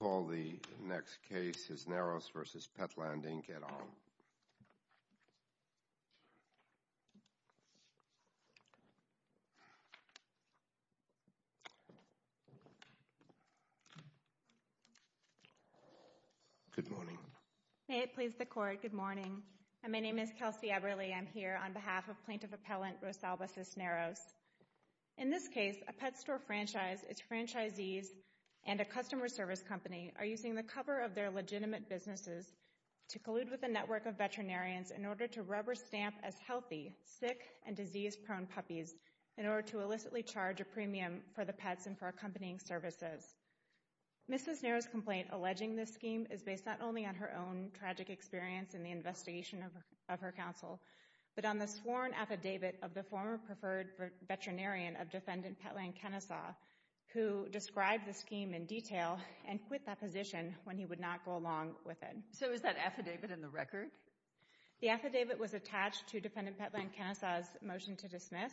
I'll call the next case, Cisneros v. Petland, Inc., et al. Good morning. May it please the Court, good morning. My name is Kelsey Eberle. I'm here on behalf of Plaintiff Appellant Rosalba Cisneros. In this case, a pet store franchise, its franchisees, and a customer service company are using the cover of their legitimate businesses to collude with a network of veterinarians in order to rubber stamp as healthy, sick, and disease-prone puppies in order to illicitly charge a premium for the pets and for accompanying services. Mrs. Cisneros' complaint alleging this scheme is based not only on her own tragic experience in the investigation of her counsel, but on the sworn affidavit of the former preferred veterinarian of Defendant Petland Kennesaw who described the scheme in detail and quit that position when he would not go along with it. So is that affidavit in the record? The affidavit was attached to Defendant Petland Kennesaw's motion to dismiss,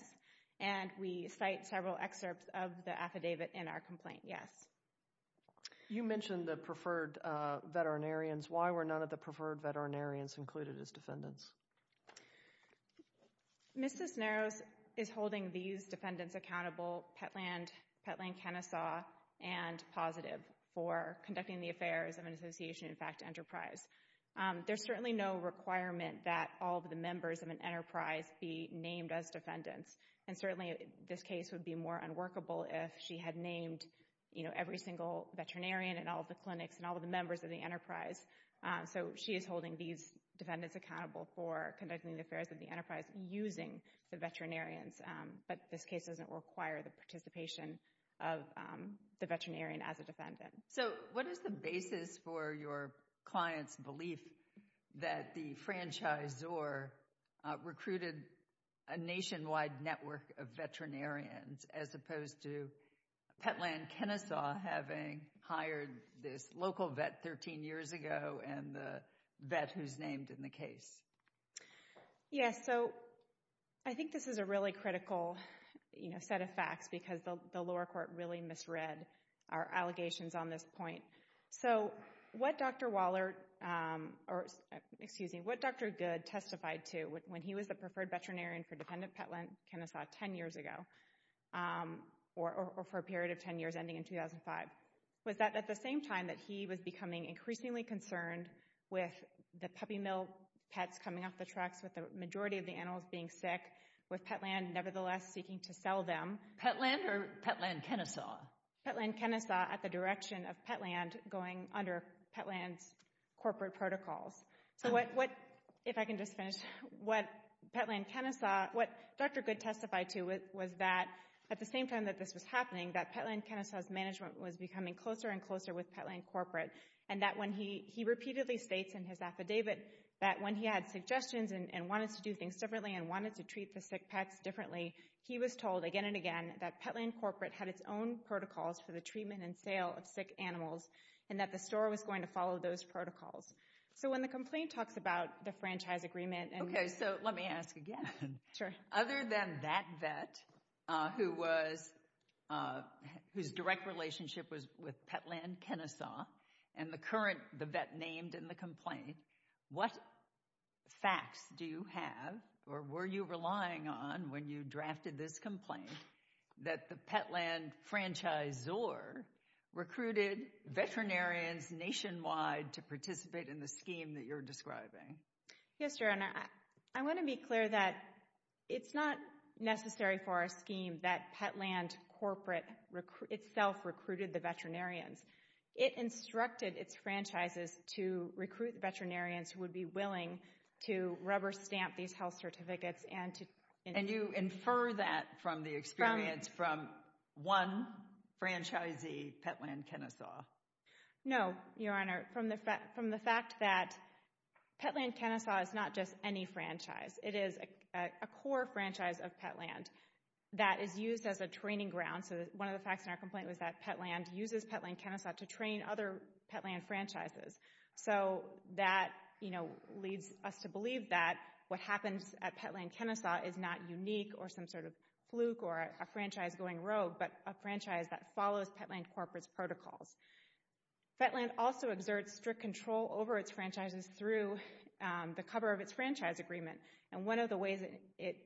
and we cite several excerpts of the affidavit in our complaint, yes. You mentioned the preferred veterinarians. Why were none of the preferred veterinarians included as defendants? Mrs. Cisneros is holding these defendants accountable, Petland Kennesaw and Positive, for conducting the affairs of an association, in fact, enterprise. There's certainly no requirement that all of the members of an enterprise be named as defendants, and certainly this case would be more unworkable if she had named, you know, every single veterinarian in all of the clinics and all of the members of the enterprise. So she is holding these defendants accountable for conducting the affairs of the enterprise using the veterinarians, but this case doesn't require the participation of the veterinarian as a defendant. So what is the basis for your client's belief that the franchisor recruited a nationwide network of veterinarians, as opposed to Petland Kennesaw having hired this local vet 13 years ago and the vet who's named in the case? Yes, so I think this is a really critical, you know, set of facts, because the lower court really misread our allegations on this point. So what Dr. Good testified to when he was the preferred veterinarian for defendant Petland Kennesaw 10 years ago, or for a period of 10 years ending in 2005, was that at the same time that he was becoming increasingly concerned with the puppy mill pets coming off the tracks, with the majority of the animals being sick, with Petland nevertheless seeking to sell them. Petland or Petland Kennesaw? Petland Kennesaw at the direction of Petland going under Petland's corporate protocols. So what, if I can just finish, what Petland Kennesaw, what Dr. Good testified to was that at the same time that this was happening, that Petland Kennesaw's management was becoming closer and closer with Petland corporate, and that when he repeatedly states in his affidavit that when he had suggestions and wanted to do things differently and wanted to treat the sick pets differently, he was told again and again that Petland corporate had its own protocols for the treatment and sale of sick animals, and that the store was going to follow those protocols. So when the complaint talks about the franchise agreement and— Okay, so let me ask again. Sure. Other than that vet who was, whose direct relationship was with Petland Kennesaw, and the current, the vet named in the complaint, what facts do you have, or were you relying on when you drafted this complaint that the Petland franchisor recruited veterinarians nationwide to participate in the scheme that you're describing? Yes, Your Honor. I want to be clear that it's not necessary for our scheme that Petland corporate itself recruited the veterinarians. It instructed its franchises to recruit veterinarians who would be willing to rubber stamp these health certificates and to— And you infer that from the experience from one franchisee, Petland Kennesaw. No, Your Honor. From the fact that Petland Kennesaw is not just any franchise. It is a core franchise of Petland that is used as a training ground. So one of the facts in our complaint was that Petland uses Petland Kennesaw to train other Petland franchises. So that, you know, leads us to believe that what happens at Petland Kennesaw is not unique or some sort of fluke or a franchise going rogue, but a franchise that follows Petland corporate's protocols. Petland also exerts strict control over its franchises through the cover of its franchise agreement. And one of the ways it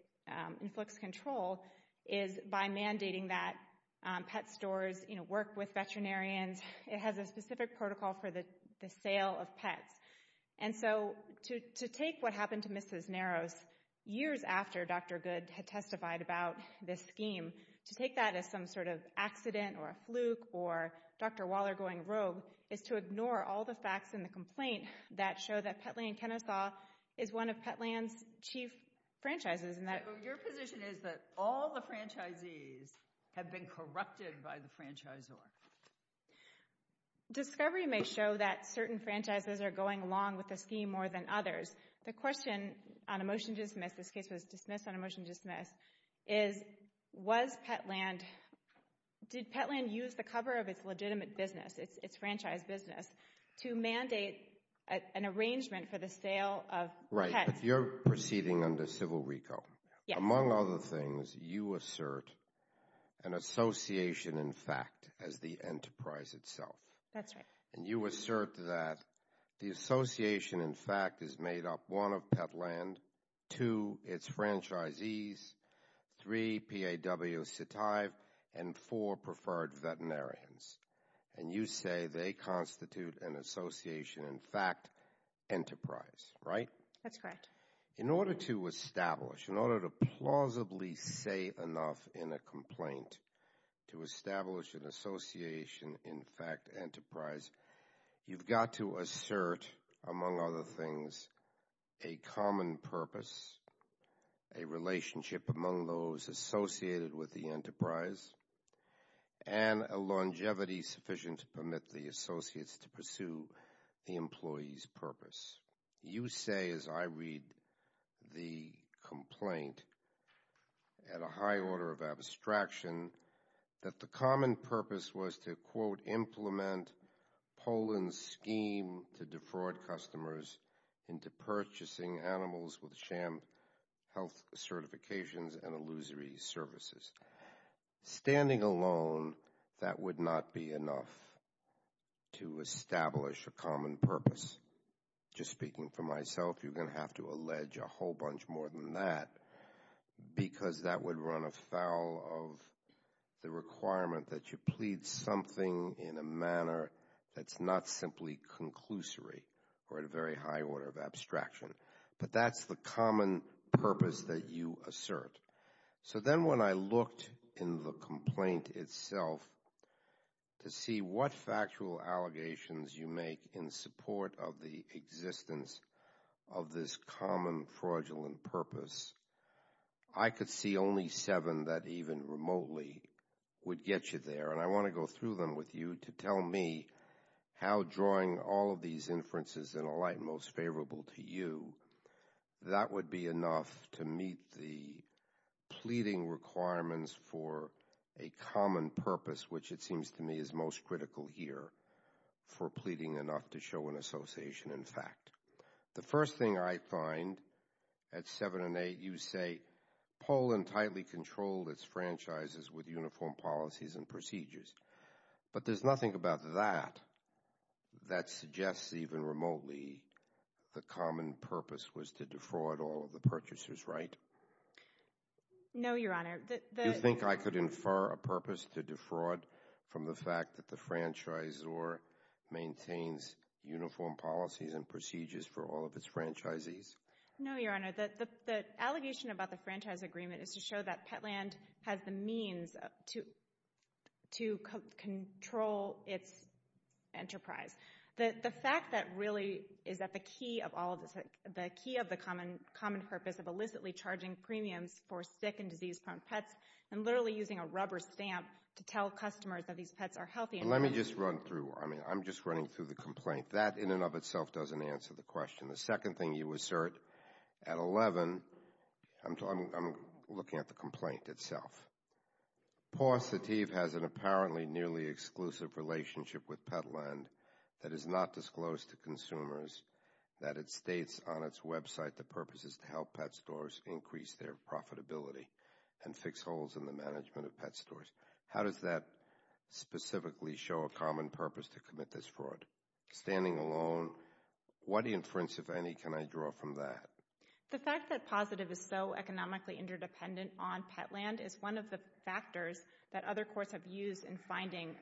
inflicts control is by mandating that pet stores, you know, work with veterinarians. It has a specific protocol for the sale of pets. And so to take what happened to Mrs. Narrows years after Dr. Goode had testified about this scheme, to take that as some sort of accident or a fluke or Dr. Waller going rogue, is to ignore all the facts in the complaint that show that Petland Kennesaw is one of Petland's chief franchises. So your position is that all the franchisees have been corrupted by the franchisor? Discovery may show that certain franchises are going along with the scheme more than others. The question on a motion to dismiss, this case was dismissed on a motion to dismiss, is was Petland, did Petland use the cover of its legitimate business, its franchise business, to mandate an arrangement for the sale of pets? Right, but you're proceeding under civil reco. Yes. Among other things, you assert an association in fact as the enterprise itself. That's right. And you assert that the association in fact is made up, one, of Petland, two, its franchisees, three, P.A.W. Sittive, and four, preferred veterinarians. And you say they constitute an association in fact enterprise, right? That's correct. In order to establish, in order to plausibly say enough in a complaint to establish an association in fact enterprise, you've got to assert, among other things, a common purpose, a relationship among those associated with the enterprise, and a longevity sufficient to permit the associates to pursue the employee's purpose. You say, as I read the complaint, at a high order of abstraction, that the common purpose was to, quote, implement Poland's scheme to defraud customers into purchasing animals with sham health certifications and illusory services. Standing alone, that would not be enough to establish a common purpose. Just speaking for myself, you're going to have to allege a whole bunch more than that because that would run afoul of the requirement that you plead something in a manner that's not simply conclusory or at a very high order of abstraction. But that's the common purpose that you assert. So then when I looked in the complaint itself to see what factual allegations you make in support of the existence of this common fraudulent purpose, I could see only seven that even remotely would get you there. And I want to go through them with you to tell me how drawing all of these inferences in a light most favorable to you, that would be enough to meet the pleading requirements for a common purpose which it seems to me is most critical here for pleading enough to show an association in fact. The first thing I find at seven and eight, you say, Poland tightly controlled its franchises with uniform policies and procedures. But there's nothing about that that suggests even remotely the common purpose was to defraud all of the purchasers, right? No, Your Honor. Do you think I could infer a purpose to defraud from the fact that the franchisor maintains uniform policies and procedures for all of its franchisees? No, Your Honor. The allegation about the franchise agreement is to show that Petland has the means to control its enterprise. The fact that really is that the key of the common purpose of illicitly charging premiums for sick and disease-prone pets and literally using a rubber stamp to tell customers that these pets are healthy. Let me just run through. I'm just running through the complaint. That in and of itself doesn't answer the question. The second thing you assert at 11, I'm looking at the complaint itself. Paw Sativ has an apparently nearly exclusive relationship with Petland that is not disclosed to consumers that it states on its website the purpose is to help pet stores increase their profitability and fix holes in the management of pet stores. How does that specifically show a common purpose to commit this fraud? Standing alone, what inference, if any, can I draw from that? The fact that Paw Sativ is so economically interdependent on Petland is one of the factors that other courts have used in finding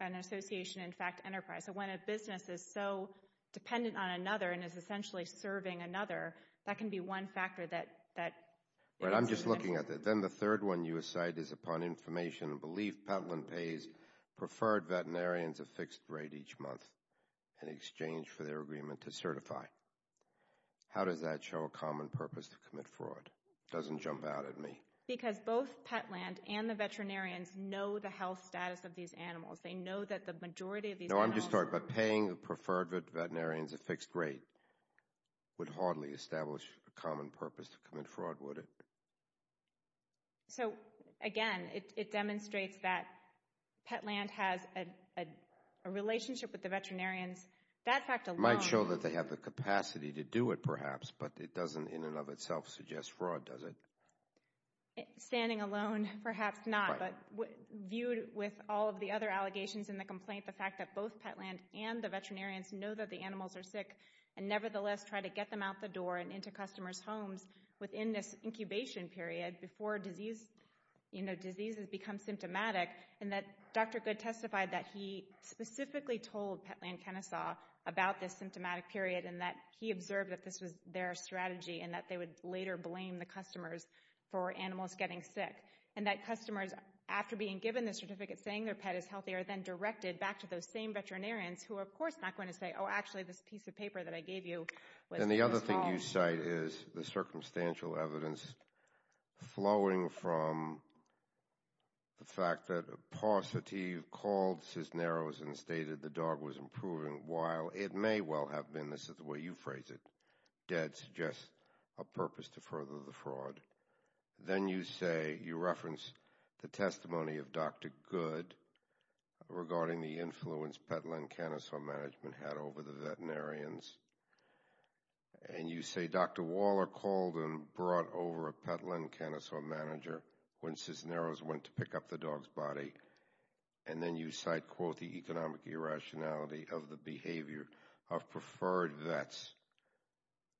an association, in fact, enterprise. So when a business is so dependent on another and is essentially serving another, that can be one factor that answers the question. I'm just looking at that. Then the third one you cite is upon information, belief Petland pays preferred veterinarians a fixed rate each month in exchange for their agreement to certify. How does that show a common purpose to commit fraud? It doesn't jump out at me. Because both Petland and the veterinarians know the health status of these animals. They know that the majority of these animals No, I'm just talking about paying the preferred veterinarians a fixed rate would hardly establish a common purpose to commit fraud, would it? So, again, it demonstrates that Petland has a relationship with the veterinarians. That fact alone might show that they have the capacity to do it, perhaps, but it doesn't in and of itself suggest fraud, does it? Standing alone, perhaps not. But viewed with all of the other allegations in the complaint, the fact that both Petland and the veterinarians know that the animals are sick and nevertheless try to get them out the door and into customers' homes within this incubation period before diseases become symptomatic and that Dr. Goode testified that he specifically told Petland Kennesaw about this symptomatic period and that he observed that this was their strategy and that they would later blame the customers for animals getting sick and that customers, after being given the certificate saying their pet is healthy, are then directed back to those same veterinarians who are, of course, not going to say, Oh, actually, this piece of paper that I gave you was wrong. And the other thing you cite is the circumstantial evidence flowing from the fact that Pau Sativ called Cisneros and stated the dog was improving while it may well have been. This is the way you phrase it. Dead suggests a purpose to further the fraud. Then you say you reference the testimony of Dr. Goode regarding the influence Petland Kennesaw management had over the veterinarians. And you say Dr. Waller called and brought over a Petland Kennesaw manager when Cisneros went to pick up the dog's body. And then you cite, quote, the economic irrationality of the behavior of preferred vets,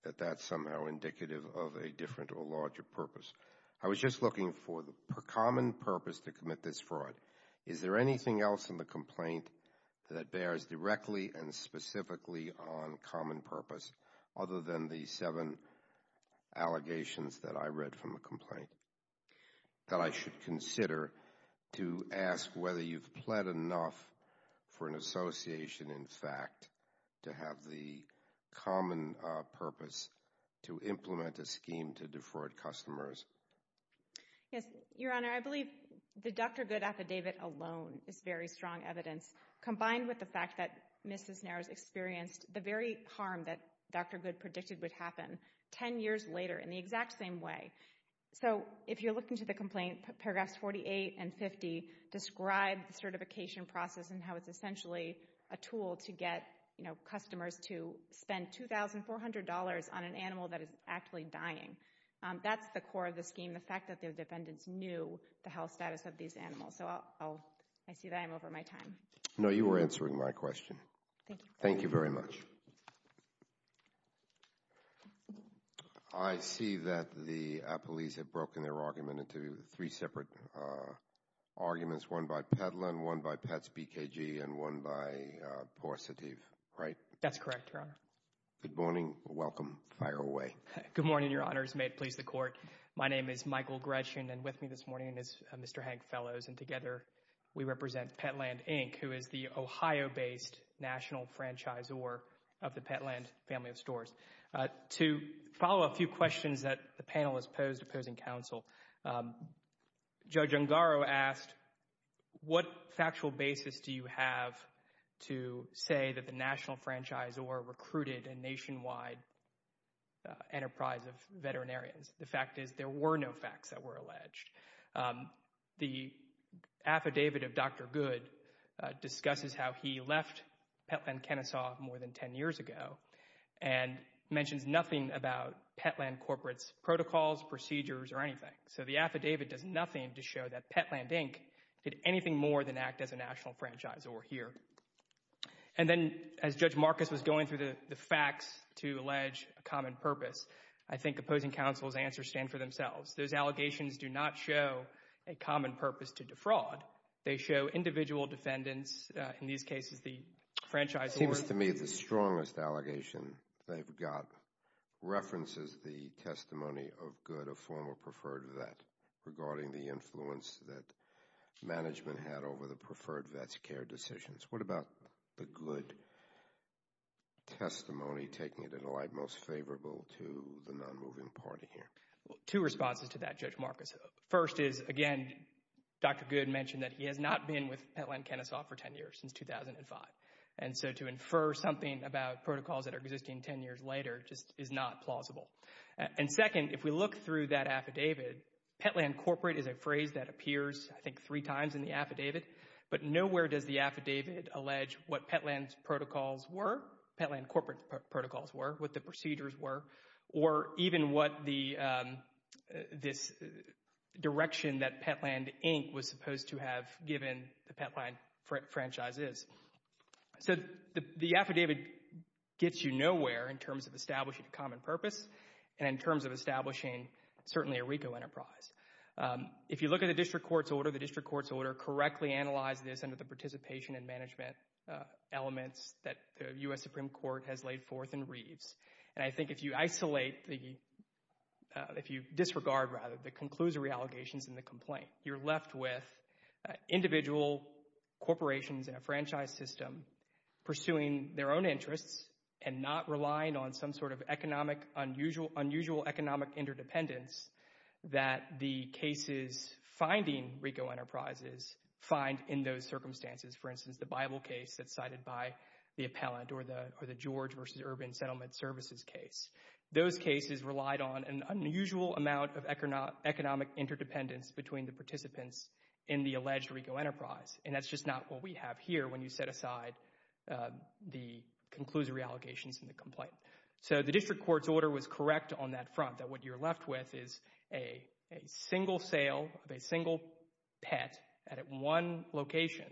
that that's somehow indicative of a different or larger purpose. I was just looking for the common purpose to commit this fraud. Is there anything else in the complaint that bears directly and specifically on common purpose other than the seven allegations that I read from the complaint that I should consider to ask whether you've pled enough for an association, in fact, to have the common purpose to implement a scheme to defraud customers? Yes, Your Honor, I believe the Dr. Goode affidavit alone is very strong evidence. Combined with the fact that Mrs. Cisneros experienced the very harm that Dr. Goode predicted would happen 10 years later in the exact same way. So if you're looking to the complaint, paragraphs 48 and 50 describe the certification process and how it's essentially a tool to get customers to spend $2,400 on an animal that is actually dying. That's the core of the scheme, the fact that the defendants knew the health status of these animals. So I see that I'm over my time. No, you were answering my question. Thank you. Thank you very much. Thank you. I see that the police have broken their argument into three separate arguments, one by Petland, one by Pets BKG, and one by Porcetieve, right? That's correct, Your Honor. Good morning. Welcome. Fire away. Good morning, Your Honors. May it please the Court. My name is Michael Greshin, and with me this morning is Mr. Hank Fellows, and together we represent Petland, Inc., who is the Ohio-based national franchisor of the Petland family of stores. To follow a few questions that the panel has posed to opposing counsel, Judge Ungaro asked, what factual basis do you have to say that the national franchisor recruited a nationwide enterprise of veterinarians? The fact is there were no facts that were alleged. The affidavit of Dr. Goode discusses how he left Petland, Kennesaw more than 10 years ago and mentions nothing about Petland corporate's protocols, procedures, or anything. So the affidavit does nothing to show that Petland, Inc. did anything more than act as a national franchisor here. And then as Judge Marcus was going through the facts to allege a common purpose, I think opposing counsel's answers stand for themselves. Those allegations do not show a common purpose to defraud. They show individual defendants, in these cases the franchisor. It seems to me the strongest allegation they've got references the testimony of Goode, a former preferred vet, regarding the influence that management had over the preferred vet's care decisions. What about the Goode testimony taking it in a light most favorable to the non-moving party here? Two responses to that, Judge Marcus. First is, again, Dr. Goode mentioned that he has not been with Petland, Kennesaw for 10 years, since 2005. And so to infer something about protocols that are existing 10 years later just is not plausible. And second, if we look through that affidavit, Petland corporate is a phrase that appears I think three times in the affidavit, but nowhere does the affidavit allege what Petland's protocols were, Petland corporate's protocols were, what the procedures were, or even what this direction that Petland Inc. was supposed to have given the Petland franchise is. So the affidavit gets you nowhere in terms of establishing a common purpose and in terms of establishing certainly a RICO enterprise. If you look at the district court's order, the district court's order correctly analyzed this under the participation and management elements that the U.S. Supreme Court has laid forth in Reeves. And I think if you isolate the, if you disregard rather, the conclusory allegations in the complaint, you're left with individual corporations in a franchise system pursuing their own interests and not relying on some sort of economic, unusual economic interdependence that the cases finding RICO enterprises find in those circumstances. For instance, the Bible case that's cited by the appellant, or the George v. Urban Settlement Services case. Those cases relied on an unusual amount of economic interdependence between the participants in the alleged RICO enterprise. And that's just not what we have here when you set aside the conclusory allegations in the complaint. So the district court's order was correct on that front, that what you're left with is a single sale of a single pet at one location.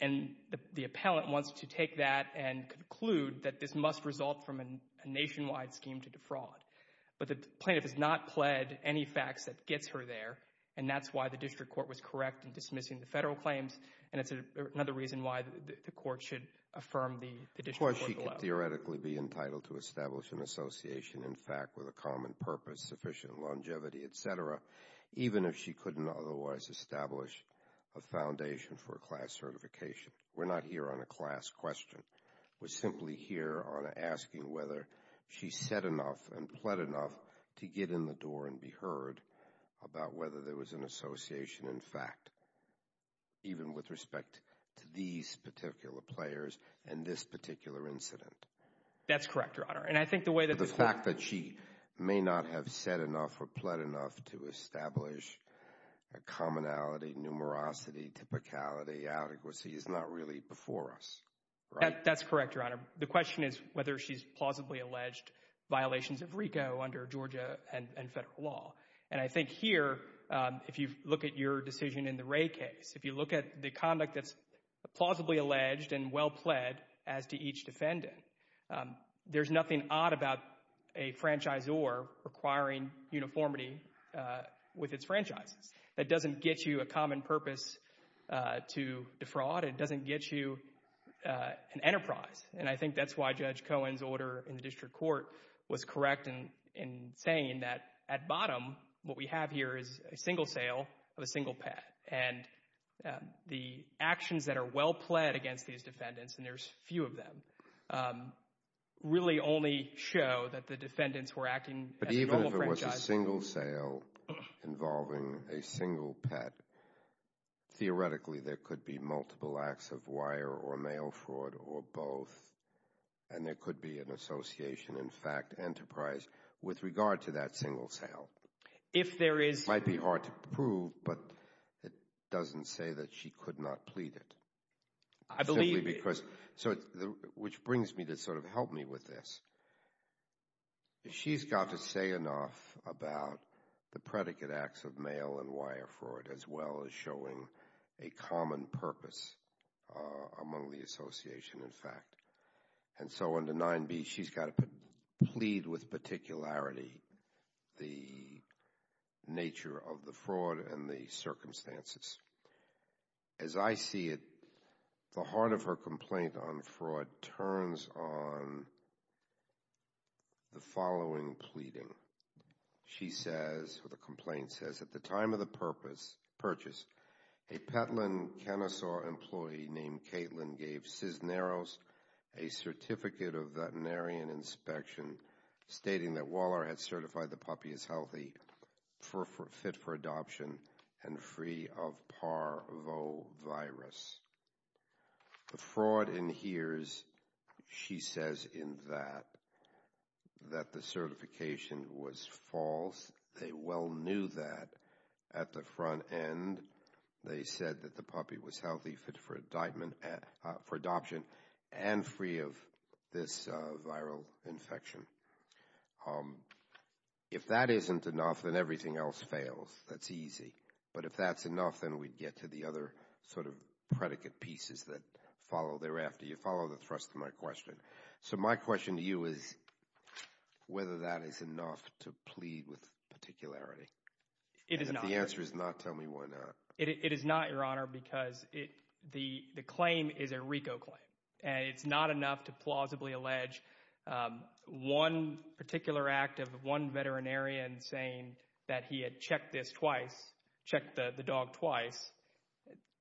And the appellant wants to take that and conclude that this must result from a nationwide scheme to defraud. But the plaintiff has not pled any facts that gets her there, and that's why the district court was correct in dismissing the federal claims, and it's another reason why the court should affirm the district court below. Of course, she could theoretically be entitled to establish an association, in fact, with a common purpose, sufficient longevity, et cetera, even if she couldn't otherwise establish a foundation for a class certification. We're not here on a class question. We're simply here on asking whether she said enough and pled enough to get in the door and be heard about whether there was an association, in fact, even with respect to these particular players and this particular incident. That's correct, Your Honor. And I think the way that the fact that she may not have said enough or pled enough to establish a commonality, numerosity, typicality, adequacy is not really before us, right? That's correct, Your Honor. The question is whether she's plausibly alleged violations of RICO under Georgia and federal law. And I think here, if you look at your decision in the Ray case, if you look at the conduct that's plausibly alleged and well pled as to each defendant, there's nothing odd about a franchisor requiring uniformity with its franchises. That doesn't get you a common purpose to defraud. It doesn't get you an enterprise. And I think that's why Judge Cohen's order in the district court was correct in saying that at bottom, what we have here is a single sale of a single pet. And the actions that are well pled against these defendants, and there's few of them, really only show that the defendants were acting as a normal franchise. But even if it was a single sale involving a single pet, theoretically there could be multiple acts of wire or mail fraud or both, and there could be an association, in fact, enterprise, with regard to that single sale. It might be hard to prove, but it doesn't say that she could not plead it. I believe it. Which brings me to sort of help me with this. She's got to say enough about the predicate acts of mail and wire fraud as well as showing a common purpose among the association, in fact. And so under 9b, she's got to plead with particularity the nature of the fraud and the circumstances. As I see it, the heart of her complaint on fraud turns on the following pleading. She says, or the complaint says, at the time of the purchase, a Petlin Kennesaw employee named Caitlin gave Cisneros a certificate of veterinarian inspection stating that Waller had certified the puppy as healthy, fit for adoption, and free of parvovirus. The fraud adheres, she says in that, that the certification was false. They well knew that. At the front end, they said that the puppy was healthy, fit for adoption, and free of this viral infection. If that isn't enough, then everything else fails. That's easy. But if that's enough, then we'd get to the other sort of predicate pieces that follow thereafter. You follow the thrust of my question. So my question to you is whether that is enough to plead with particularity. If the answer is not, tell me why not. It is not, Your Honor, because the claim is a RICO claim. It's not enough to plausibly allege one particular act of one veterinarian saying that he had checked this twice, checked the dog twice.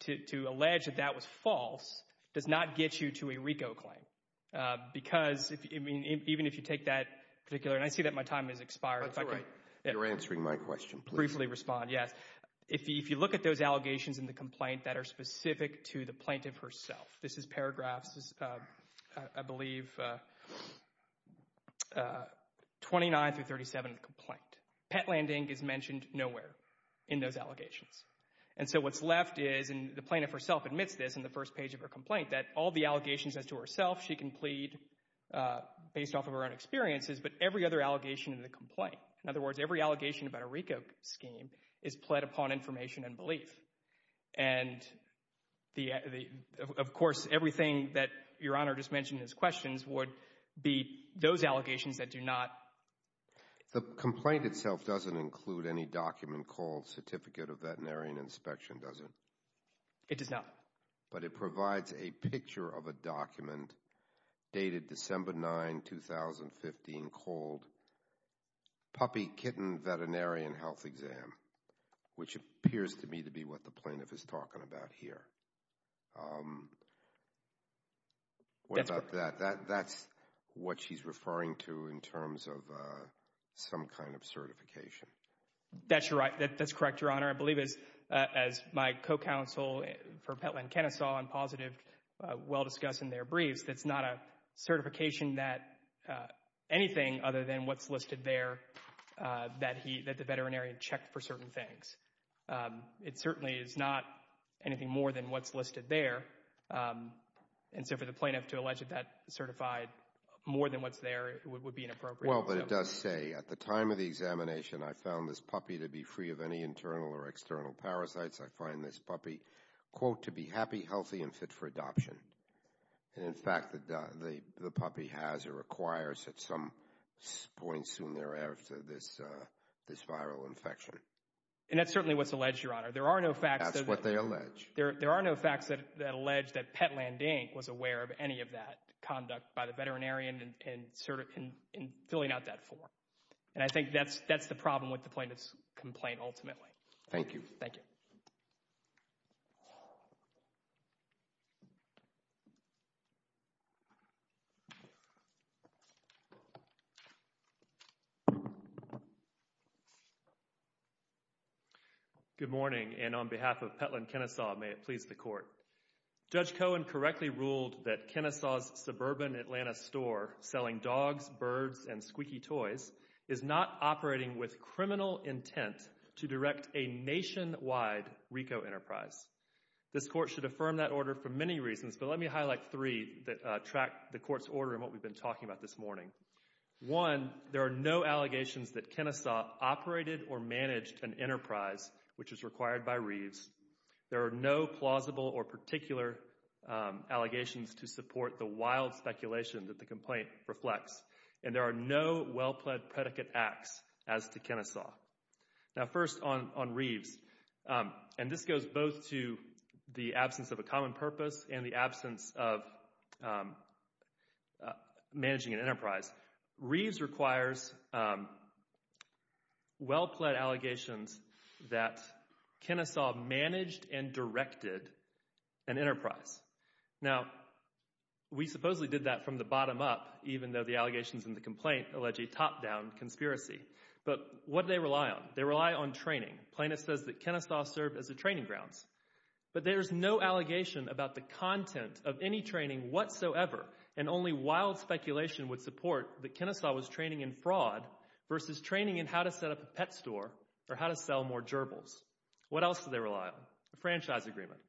To allege that that was false does not get you to a RICO claim. Because, I mean, even if you take that particular, and I see that my time has expired. That's all right. You're answering my question. Briefly respond, yes. If you look at those allegations in the complaint that are specific to the plaintiff herself, this is paragraphs, I believe, 29 through 37 of the complaint. Pet landing is mentioned nowhere in those allegations. And so what's left is, and the plaintiff herself admits this in the first page of her complaint, that all the allegations as to herself she can plead based off of her own experiences, but every other allegation in the complaint. In other words, every allegation about a RICO scheme is pled upon information and belief. And, of course, everything that Your Honor just mentioned as questions would be those allegations that do not. The complaint itself doesn't include any document called Certificate of Veterinarian Inspection, does it? It does not. But it provides a picture of a document dated December 9, 2015 called Puppy Kitten Veterinarian Health Exam, which appears to me to be what the plaintiff is talking about here. What about that? That's what she's referring to in terms of some kind of certification. That's correct, Your Honor. I believe, as my co-counsel for Petland Kennesaw and Positive well discussed in their briefs, that's not a certification that anything other than what's listed there that the veterinarian checked for certain things. It certainly is not anything more than what's listed there. And so for the plaintiff to allege that that certified more than what's there would be inappropriate. Well, but it does say, at the time of the examination I found this puppy to be free of any internal or external parasites. I find this puppy, quote, to be happy, healthy, and fit for adoption. And in fact, the puppy has or requires at some point soon thereafter this viral infection. And that's certainly what's alleged, Your Honor. That's what they allege. There are no facts that allege that Petland, Inc. was aware of any of that conduct by the veterinarian in filling out that form. And I think that's the problem with the plaintiff's complaint ultimately. Thank you. Thank you. Thank you. Good morning, and on behalf of Petland Kennesaw, may it please the Court. Judge Cohen correctly ruled that Kennesaw's suburban Atlanta store selling dogs, birds, and squeaky toys is not operating with criminal intent to direct a nationwide RICO enterprise. This Court should affirm that order for many reasons, but let me highlight three that track the Court's order and what we've been talking about this morning. One, there are no allegations that Kennesaw operated or managed an enterprise which is required by Reeves. There are no plausible or particular allegations to support the wild speculation that the complaint reflects. And there are no well-plaid predicate acts as to Kennesaw. Now, first on Reeves, and this goes both to the absence of a common purpose and the absence of managing an enterprise, Reeves requires well-plaid allegations that Kennesaw managed and directed an enterprise. Now, we supposedly did that from the bottom up, even though the allegations in the complaint allege a top-down conspiracy. But what do they rely on? They rely on training. Plaintiff says that Kennesaw served as a training grounds. But there is no allegation about the content of any training whatsoever, and only wild speculation would support that Kennesaw was training in fraud versus training in how to set up a pet store or how to sell more gerbils. What else do they rely on? A franchise agreement.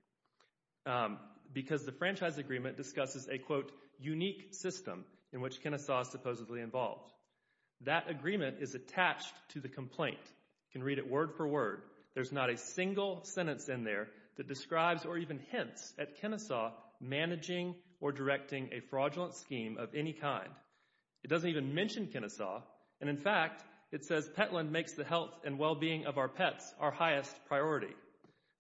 Because the franchise agreement discusses a, quote, unique system in which Kennesaw is supposedly involved. That agreement is attached to the complaint. You can read it word for word. There's not a single sentence in there that describes or even hints at Kennesaw managing or directing a fraudulent scheme of any kind. It doesn't even mention Kennesaw. And, in fact, it says, Petland makes the health and well-being of our pets our highest priority.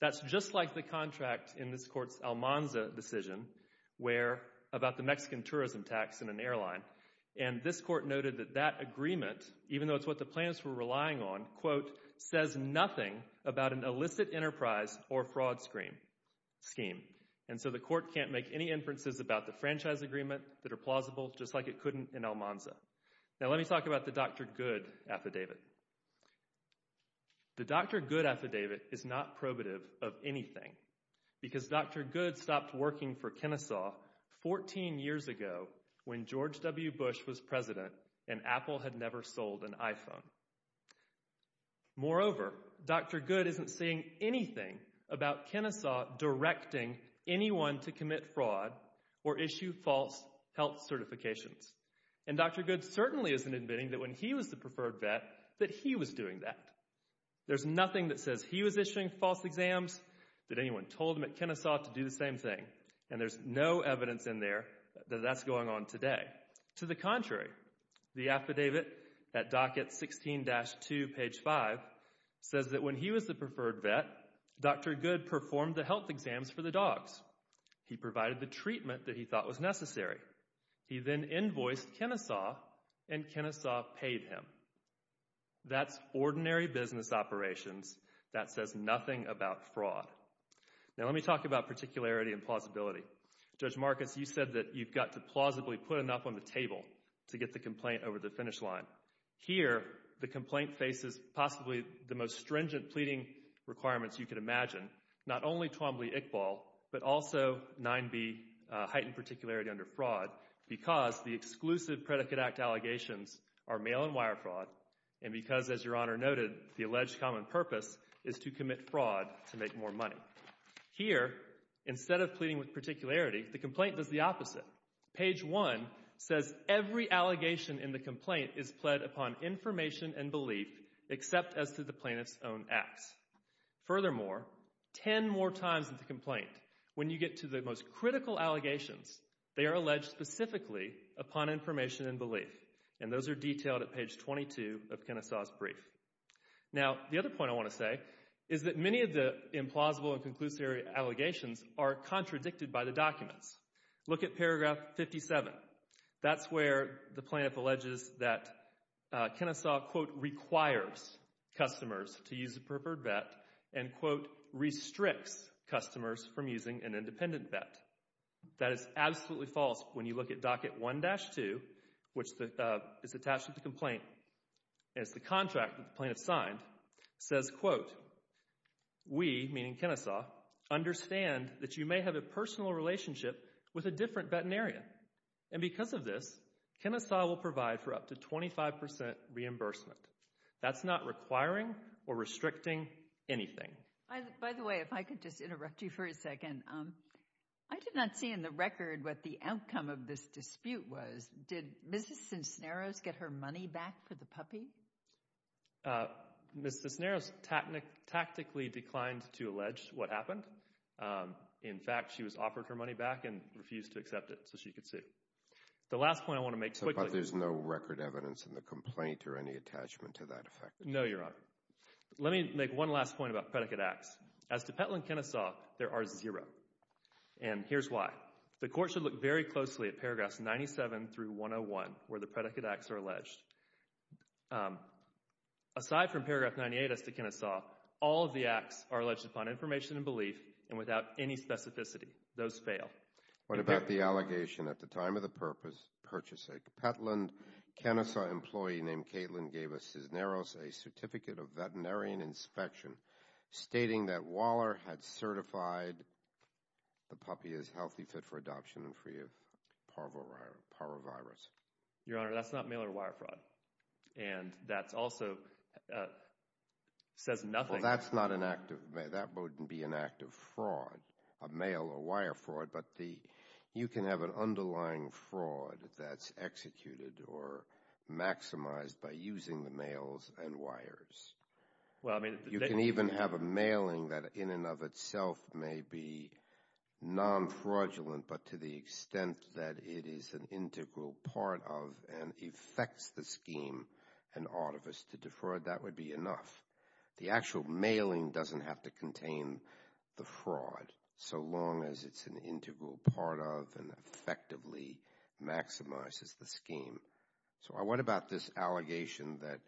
That's just like the contract in this court's Almanza decision about the Mexican tourism tax in an airline. And this court noted that that agreement, even though it's what the plaintiffs were relying on, quote, says nothing about an illicit enterprise or fraud scheme. And so the court can't make any inferences about the franchise agreement that are plausible, just like it couldn't in Almanza. Now let me talk about the Dr. Good affidavit. The Dr. Good affidavit is not probative of anything because Dr. Good stopped working for Kennesaw 14 years ago when George W. Bush was president and Apple had never sold an iPhone. Moreover, Dr. Good isn't saying anything about Kennesaw directing anyone to commit fraud or issue false health certifications. And Dr. Good certainly isn't admitting that when he was the preferred vet that he was doing that. There's nothing that says he was issuing false exams, that anyone told him at Kennesaw to do the same thing, and there's no evidence in there that that's going on today. To the contrary, the affidavit at docket 16-2, page 5, says that when he was the preferred vet, Dr. Good performed the health exams for the dogs. He provided the treatment that he thought was necessary. He then invoiced Kennesaw, and Kennesaw paid him. That's ordinary business operations. That says nothing about fraud. Now let me talk about particularity and plausibility. Judge Marcus, you said that you've got to plausibly put enough on the table to get the complaint over the finish line. Here, the complaint faces possibly the most stringent pleading requirements you could imagine, not only Twombly-Iqbal, but also 9b, heightened particularity under fraud, because the exclusive Predicate Act allegations are mail-and-wire fraud, and because, as Your Honor noted, the alleged common purpose is to commit fraud to make more money. Here, instead of pleading with particularity, the complaint does the opposite. Page 1 says every allegation in the complaint is pled upon information and belief, except as to the plaintiff's own acts. Furthermore, 10 more times in the complaint, when you get to the most critical allegations, they are alleged specifically upon information and belief, and those are detailed at page 22 of Kennesaw's brief. Now, the other point I want to say is that many of the implausible and conclusive allegations are contradicted by the documents. Look at paragraph 57. That's where the plaintiff alleges that Kennesaw, quote, requires customers to use a preferred bet and, quote, restricts customers from using an independent bet. That is absolutely false. When you look at docket 1-2, which is attached to the complaint, and it's the contract that the plaintiff signed, says, quote, we, meaning Kennesaw, understand that you may have a personal relationship with a different veterinarian, and because of this, Kennesaw will provide for up to 25% reimbursement. That's not requiring or restricting anything. By the way, if I could just interrupt you for a second. I did not see in the record what the outcome of this dispute was. Did Mrs. Cincineros get her money back for the puppy? Mrs. Cincineros tactically declined to allege what happened. In fact, she was offered her money back and refused to accept it so she could sue. The last point I want to make quickly. But there's no record evidence in the complaint or any attachment to that effect? No, Your Honor. Let me make one last point about predicate acts. As to Petlin-Kennesaw, there are zero, and here's why. The court should look very closely at paragraphs 97 through 101 where the predicate acts are alleged. Aside from paragraph 98 as to Kennesaw, all of the acts are alleged upon information and belief and without any specificity. Those fail. What about the allegation, at the time of the purchase of Petlin-Kennesaw, an employee named Caitlin gave Mrs. Cincineros a certificate of veterinarian inspection stating that Waller had certified the puppy as healthy, fit for adoption, and free of parvovirus. Your Honor, that's not mail or wire fraud. And that also says nothing. Well, that's not an act of mail. That wouldn't be an act of fraud, a mail or wire fraud. But you can have an underlying fraud that's executed or maximized by using the mails and wires. You can even have a mailing that in and of itself may be non-fraudulent, but to the extent that it is an integral part of and affects the scheme and ought of us to defraud, that would be enough. The actual mailing doesn't have to contain the fraud so long as it's an integral part of and effectively maximizes the scheme. So what about this allegation that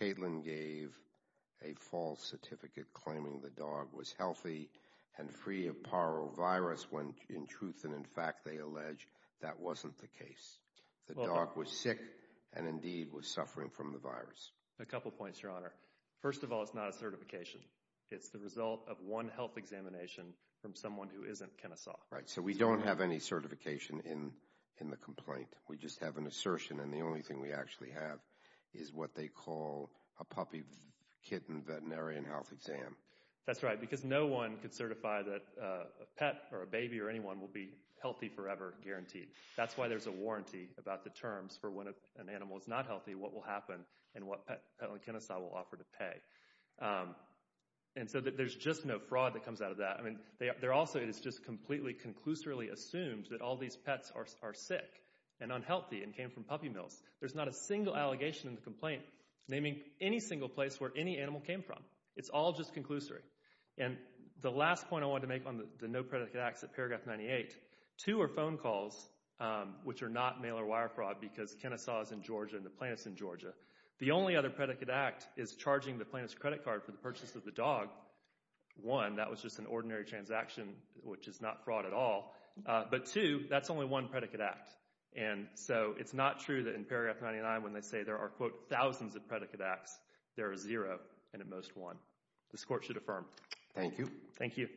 Caitlin gave a false certificate claiming the dog was healthy and free of parvovirus when in truth and in fact they allege that wasn't the case? The dog was sick and indeed was suffering from the virus. A couple points, Your Honor. First of all, it's not a certification. It's the result of one health examination from someone who isn't Kenesaw. Right, so we don't have any certification in the complaint. We just have an assertion, and the only thing we actually have is what they call a puppy-kitten veterinarian health exam. That's right, because no one could certify that a pet or a baby or anyone will be healthy forever, guaranteed. That's why there's a warranty about the terms for when an animal is not healthy, what will happen, and what Petland Kenesaw will offer to pay. And so there's just no fraud that comes out of that. Also, it is just completely conclusively assumed that all these pets are sick and unhealthy and came from puppy mills. There's not a single allegation in the complaint naming any single place where any animal came from. It's all just conclusory. And the last point I wanted to make on the no predicate acts at paragraph 98, two are phone calls, which are not mail-or-wire fraud because Kenesaw is in Georgia and the plaintiff's in Georgia. The only other predicate act is charging the plaintiff's credit card for the purchase of the dog. One, that was just an ordinary transaction, which is not fraud at all. But two, that's only one predicate act. And so it's not true that in paragraph 99 when they say there are, quote, thousands of predicate acts, there are zero and at most one. This court should affirm. Thank you. Thank you.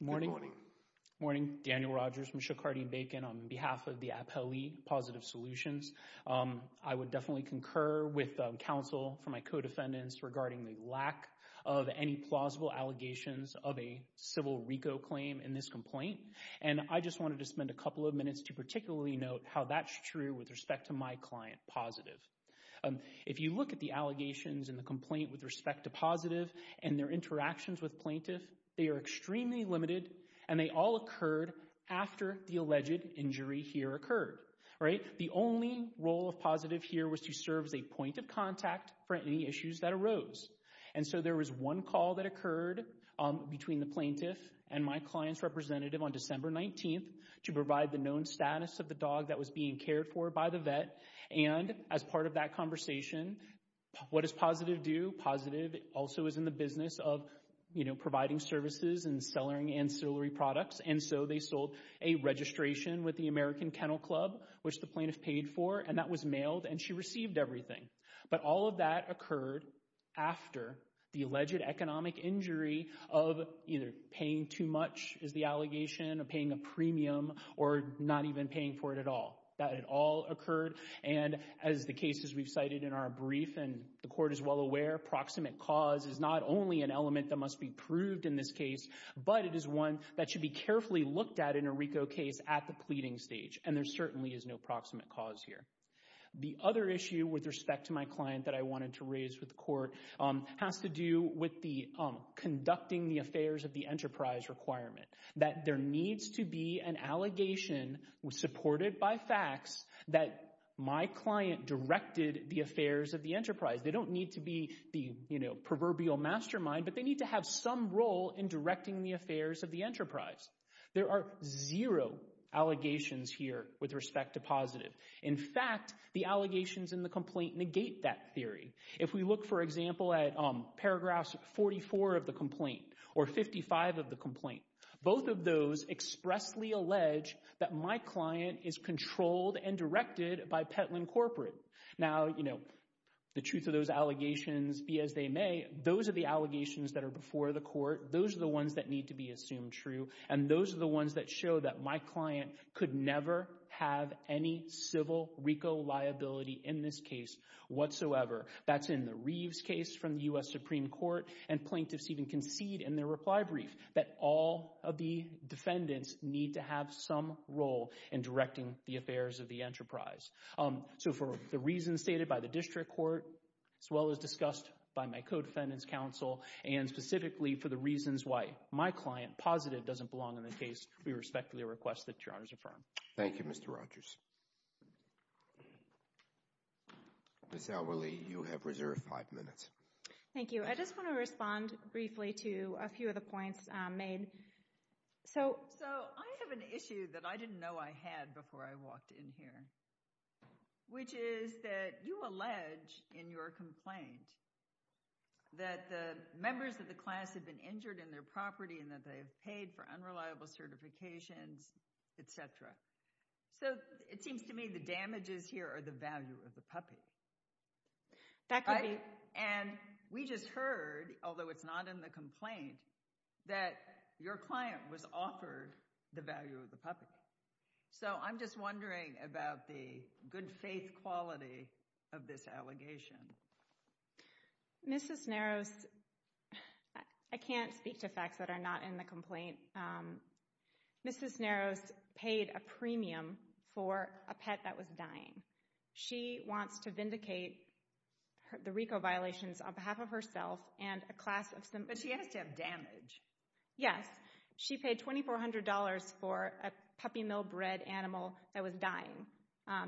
Morning. Good morning. Morning, Daniel Rogers from Shokardi and Bacon. On behalf of the Appellee Positive Solutions, I would definitely concur with counsel for my co-defendants regarding the lack of any plausible allegations of a civil RICO claim in this complaint. And I just wanted to spend a couple of minutes to particularly note how that's true with respect to my client, Positive. If you look at the allegations in the complaint with respect to Positive and their interactions with plaintiff, they are extremely limited, and they all occurred after the alleged injury here occurred. The only role of Positive here was to serve as a point of contact for any issues that arose. And so there was one call that occurred between the plaintiff and my client's representative on December 19th to provide the known status of the dog that was being cared for by the vet. And as part of that conversation, what does Positive do? Positive also is in the business of, you know, providing services and sellering ancillary products. And so they sold a registration with the American Kennel Club, which the plaintiff paid for, and that was mailed. And she received everything. But all of that occurred after the alleged economic injury of either paying too much, is the allegation, of paying a premium, or not even paying for it at all. That had all occurred. And as the cases we've cited in our brief, and the court is well aware, proximate cause is not only an element that must be proved in this case, but it is one that should be carefully looked at in a RICO case at the pleading stage. And there certainly is no proximate cause here. The other issue with respect to my client that I wanted to raise with the court has to do with the conducting the affairs of the enterprise requirement. That there needs to be an allegation, supported by facts, that my client directed the affairs of the enterprise. They don't need to be the, you know, proverbial mastermind, but they need to have some role in directing the affairs of the enterprise. There are zero allegations here with respect to Positive. In fact, the allegations in the complaint negate that theory. If we look, for example, at paragraphs 44 of the complaint, or 55 of the complaint, both of those expressly allege that my client is controlled and directed by Petlin Corporate. Now, you know, the truth of those allegations, be as they may, those are the allegations that are before the court, those are the ones that need to be assumed true, and those are the ones that show that my client could never have any civil RICO liability in this case whatsoever. That's in the Reeves case from the U.S. Supreme Court, and plaintiffs even concede in their reply brief that all of the defendants need to have some role in directing the affairs of the enterprise. So for the reasons stated by the district court, as well as discussed by my co-defendants counsel, and specifically for the reasons why my client, Positive, doesn't belong in the case, we respectfully request that your Honor's affirm. Thank you, Mr. Rogers. Ms. Elwely, you have reserved five minutes. Thank you. I just want to respond briefly to a few of the points made. So I have an issue that I didn't know I had before I walked in here, which is that you allege in your complaint that the members of the class had been injured in their property and that they have paid for unreliable certifications, etc. So it seems to me the damages here are the value of the puppy. And we just heard, although it's not in the complaint, that your client was offered the value of the puppy. So I'm just wondering about the good faith quality of this allegation. Mrs. Narrows, I can't speak to facts that are not in the complaint. Mrs. Narrows paid a premium for a pet that was dying. She wants to vindicate the RICO violations on behalf of herself and a class of some... But she has to have damage. Yes. She paid $2,400 for a puppy mill-bred animal that was dying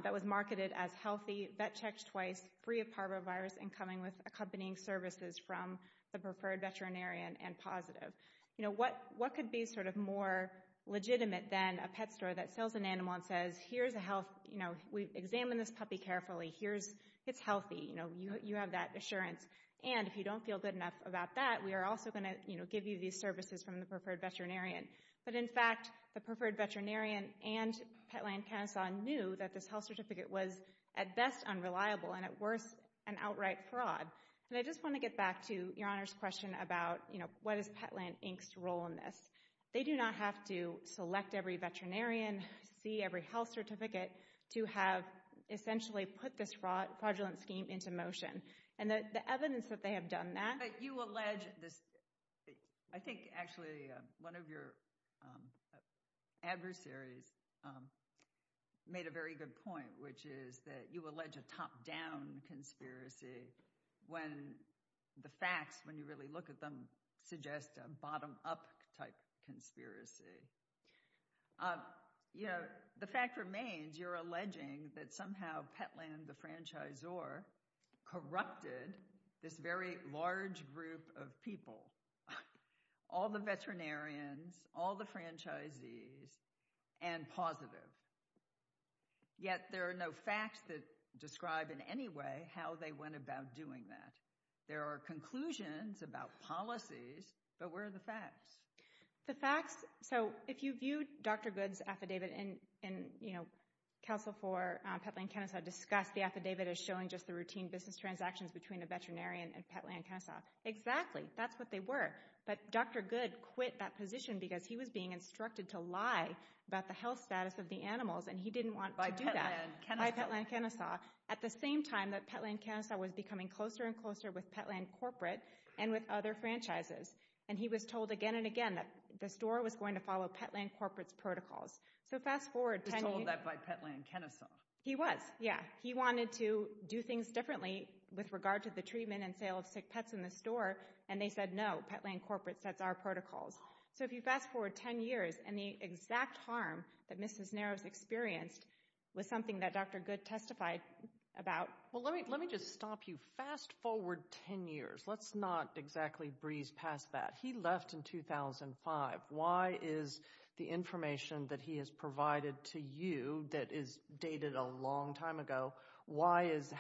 that was marketed as healthy, vet-checked twice, free of parvovirus, and coming with accompanying services from the preferred veterinarian and positive. You know, what could be sort of more legitimate than a pet store that sells an animal and says, here's a health... You know, we've examined this puppy carefully. Here's... It's healthy. You know, you have that assurance. And if you don't feel good enough about that, we are also going to, you know, give you these services from the preferred veterinarian. But in fact, the preferred veterinarian and Pet Land Council knew that this health certificate was at best unreliable and at worst an outright fraud. And I just want to get back to Your Honor's question about, you know, what is Pet Land Inc.'s role in this? They do not have to select every veterinarian, see every health certificate to have essentially put this fraudulent scheme into motion. And the evidence that they have done that... But you allege this... I think, actually, one of your adversaries made a very good point, which is that you allege a top-down conspiracy when the facts, when you really look at them, suggest a bottom-up type conspiracy. You know, the fact remains, you're alleging that somehow Pet Land, the franchisor, corrupted this very large group of people, all the veterinarians, all the franchisees, and positive. Yet there are no facts that describe in any way how they went about doing that. There are conclusions about policies, but where are the facts? The facts... So if you view Dr. Goode's affidavit and, you know, counsel for Pet Land Council discussed, the affidavit is showing just the routine business transactions between a veterinarian and Pet Land Council. Exactly. That's what they were. But Dr. Goode quit that position because he was being instructed to lie about the health status of the animals, and he didn't want to do that by Pet Land Kenesaw, at the same time that Pet Land Kenesaw was becoming closer and closer with Pet Land Corporate and with other franchises. And he was told again and again that the store was going to follow Pet Land Corporate's protocols. So fast forward... He was told that by Pet Land Kenesaw. He was, yeah. He wanted to do things differently with regard to the treatment and sale of sick pets in the store, and they said, no, Pet Land Corporate sets our protocols. So if you fast forward 10 years, and the exact harm that Mrs. Narrows experienced was something that Dr. Goode testified about... Well, let me just stop you. Fast forward 10 years. Let's not exactly breeze past that. He left in 2005. Why is the information that he has provided to you that is dated a long time ago,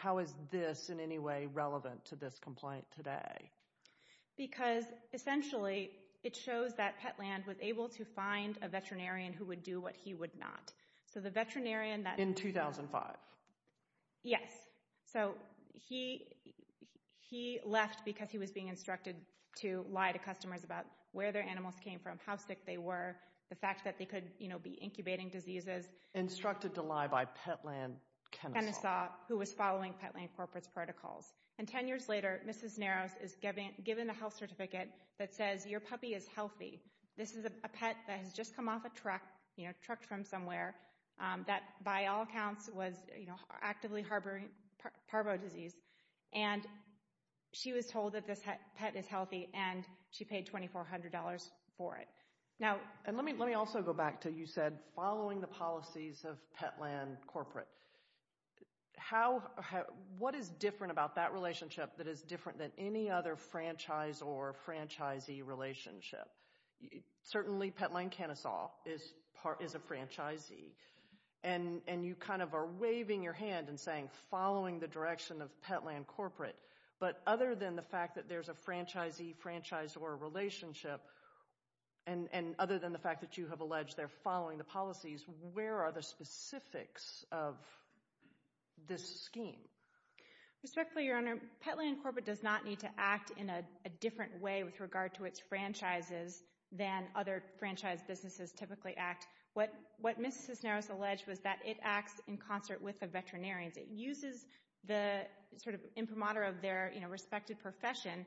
how is this in any way relevant to this complaint today? Because essentially it shows that Pet Land was able to find a veterinarian who would do what he would not. So the veterinarian that... In 2005. Yes. So he left because he was being instructed to lie to customers about where their animals came from, how sick they were, the fact that they could, you know, be incubating diseases. Instructed to lie by Pet Land Kenesaw. Kenesaw, who was following Pet Land Corporate's protocols. And 10 years later, Mrs. Narrows is given a health certificate that says your puppy is healthy. This is a pet that has just come off a truck, you know, trucked from somewhere, that by all accounts was, you know, actively harboring parvo disease. And she was told that this pet is healthy, and she paid $2,400 for it. Now... And let me also go back to you said following the policies of Pet Land Corporate. How... What is different about that relationship that is different than any other franchise or franchisee relationship? Certainly Pet Land Kenesaw is a franchisee. And you kind of are waving your hand and saying following the direction of Pet Land Corporate. But other than the fact that there's a franchisee-franchisee relationship, and other than the fact that you have alleged they're following the policies, where are the specifics of this scheme? Respectfully, Your Honor, Pet Land Corporate does not need to act in a different way with regard to its franchises than other franchise businesses typically act. What Mrs. Narrows alleged was that it acts in concert with the veterinarians. It uses the sort of imprimatur of their, you know, respected profession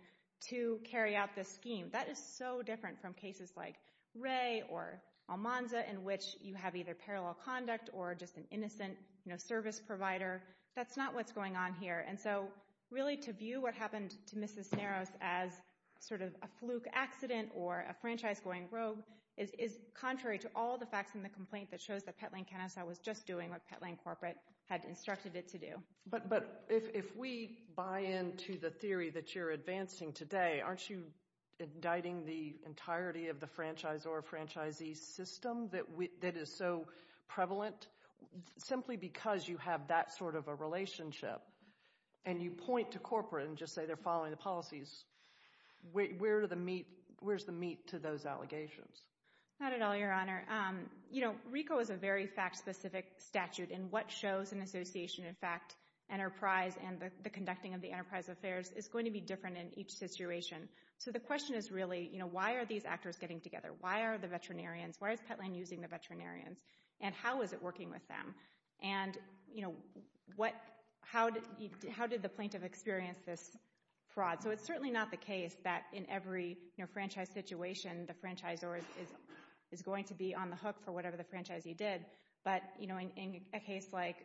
to carry out this scheme. That is so different from cases like Ray or Almanza in which you have either parallel conduct or just an innocent, you know, service provider. That's not what's going on here. And so really to view what happened to Mrs. Narrows as sort of a fluke accident or a franchise going rogue is contrary to all the facts in the complaint that shows that Pet Land Kenesaw was just doing what Pet Land Corporate had instructed it to do. But if we buy into the theory that you're advancing today, aren't you indicting the entirety of the franchise or franchisee system that is so prevalent? Simply because you have that sort of a relationship and you point to corporate and just say they're following the policies, where's the meat to those allegations? Not at all, Your Honor. You know, RICO is a very fact-specific statute, and what shows an association, in fact, enterprise and the conducting of the enterprise affairs is going to be different in each situation. So the question is really, you know, why are these actors getting together? Why are the veterinarians, why is Pet Land using the veterinarians, and how is it working with them? And, you know, how did the plaintiff experience this fraud? So it's certainly not the case that in every franchise situation the franchisor is going to be on the hook for whatever the franchisee did. But, you know, in a case like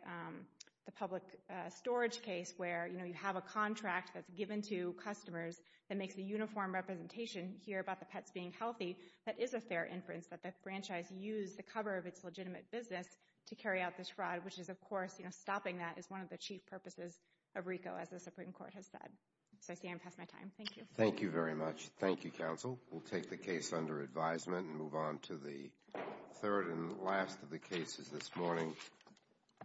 the public storage case where, you know, you have a contract that's given to customers that makes a uniform representation here about the pets being healthy, that is a fair inference that the franchise used the cover of its legitimate business to carry out this fraud, which is, of course, you know, stopping that is one of the chief purposes of RICO, as the Supreme Court has said. So I see I'm past my time. Thank you. Thank you very much. Thank you, counsel. We'll take the case under advisement and move on to the third and last of the cases this morning.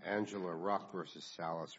Angela Ruff v. Salas.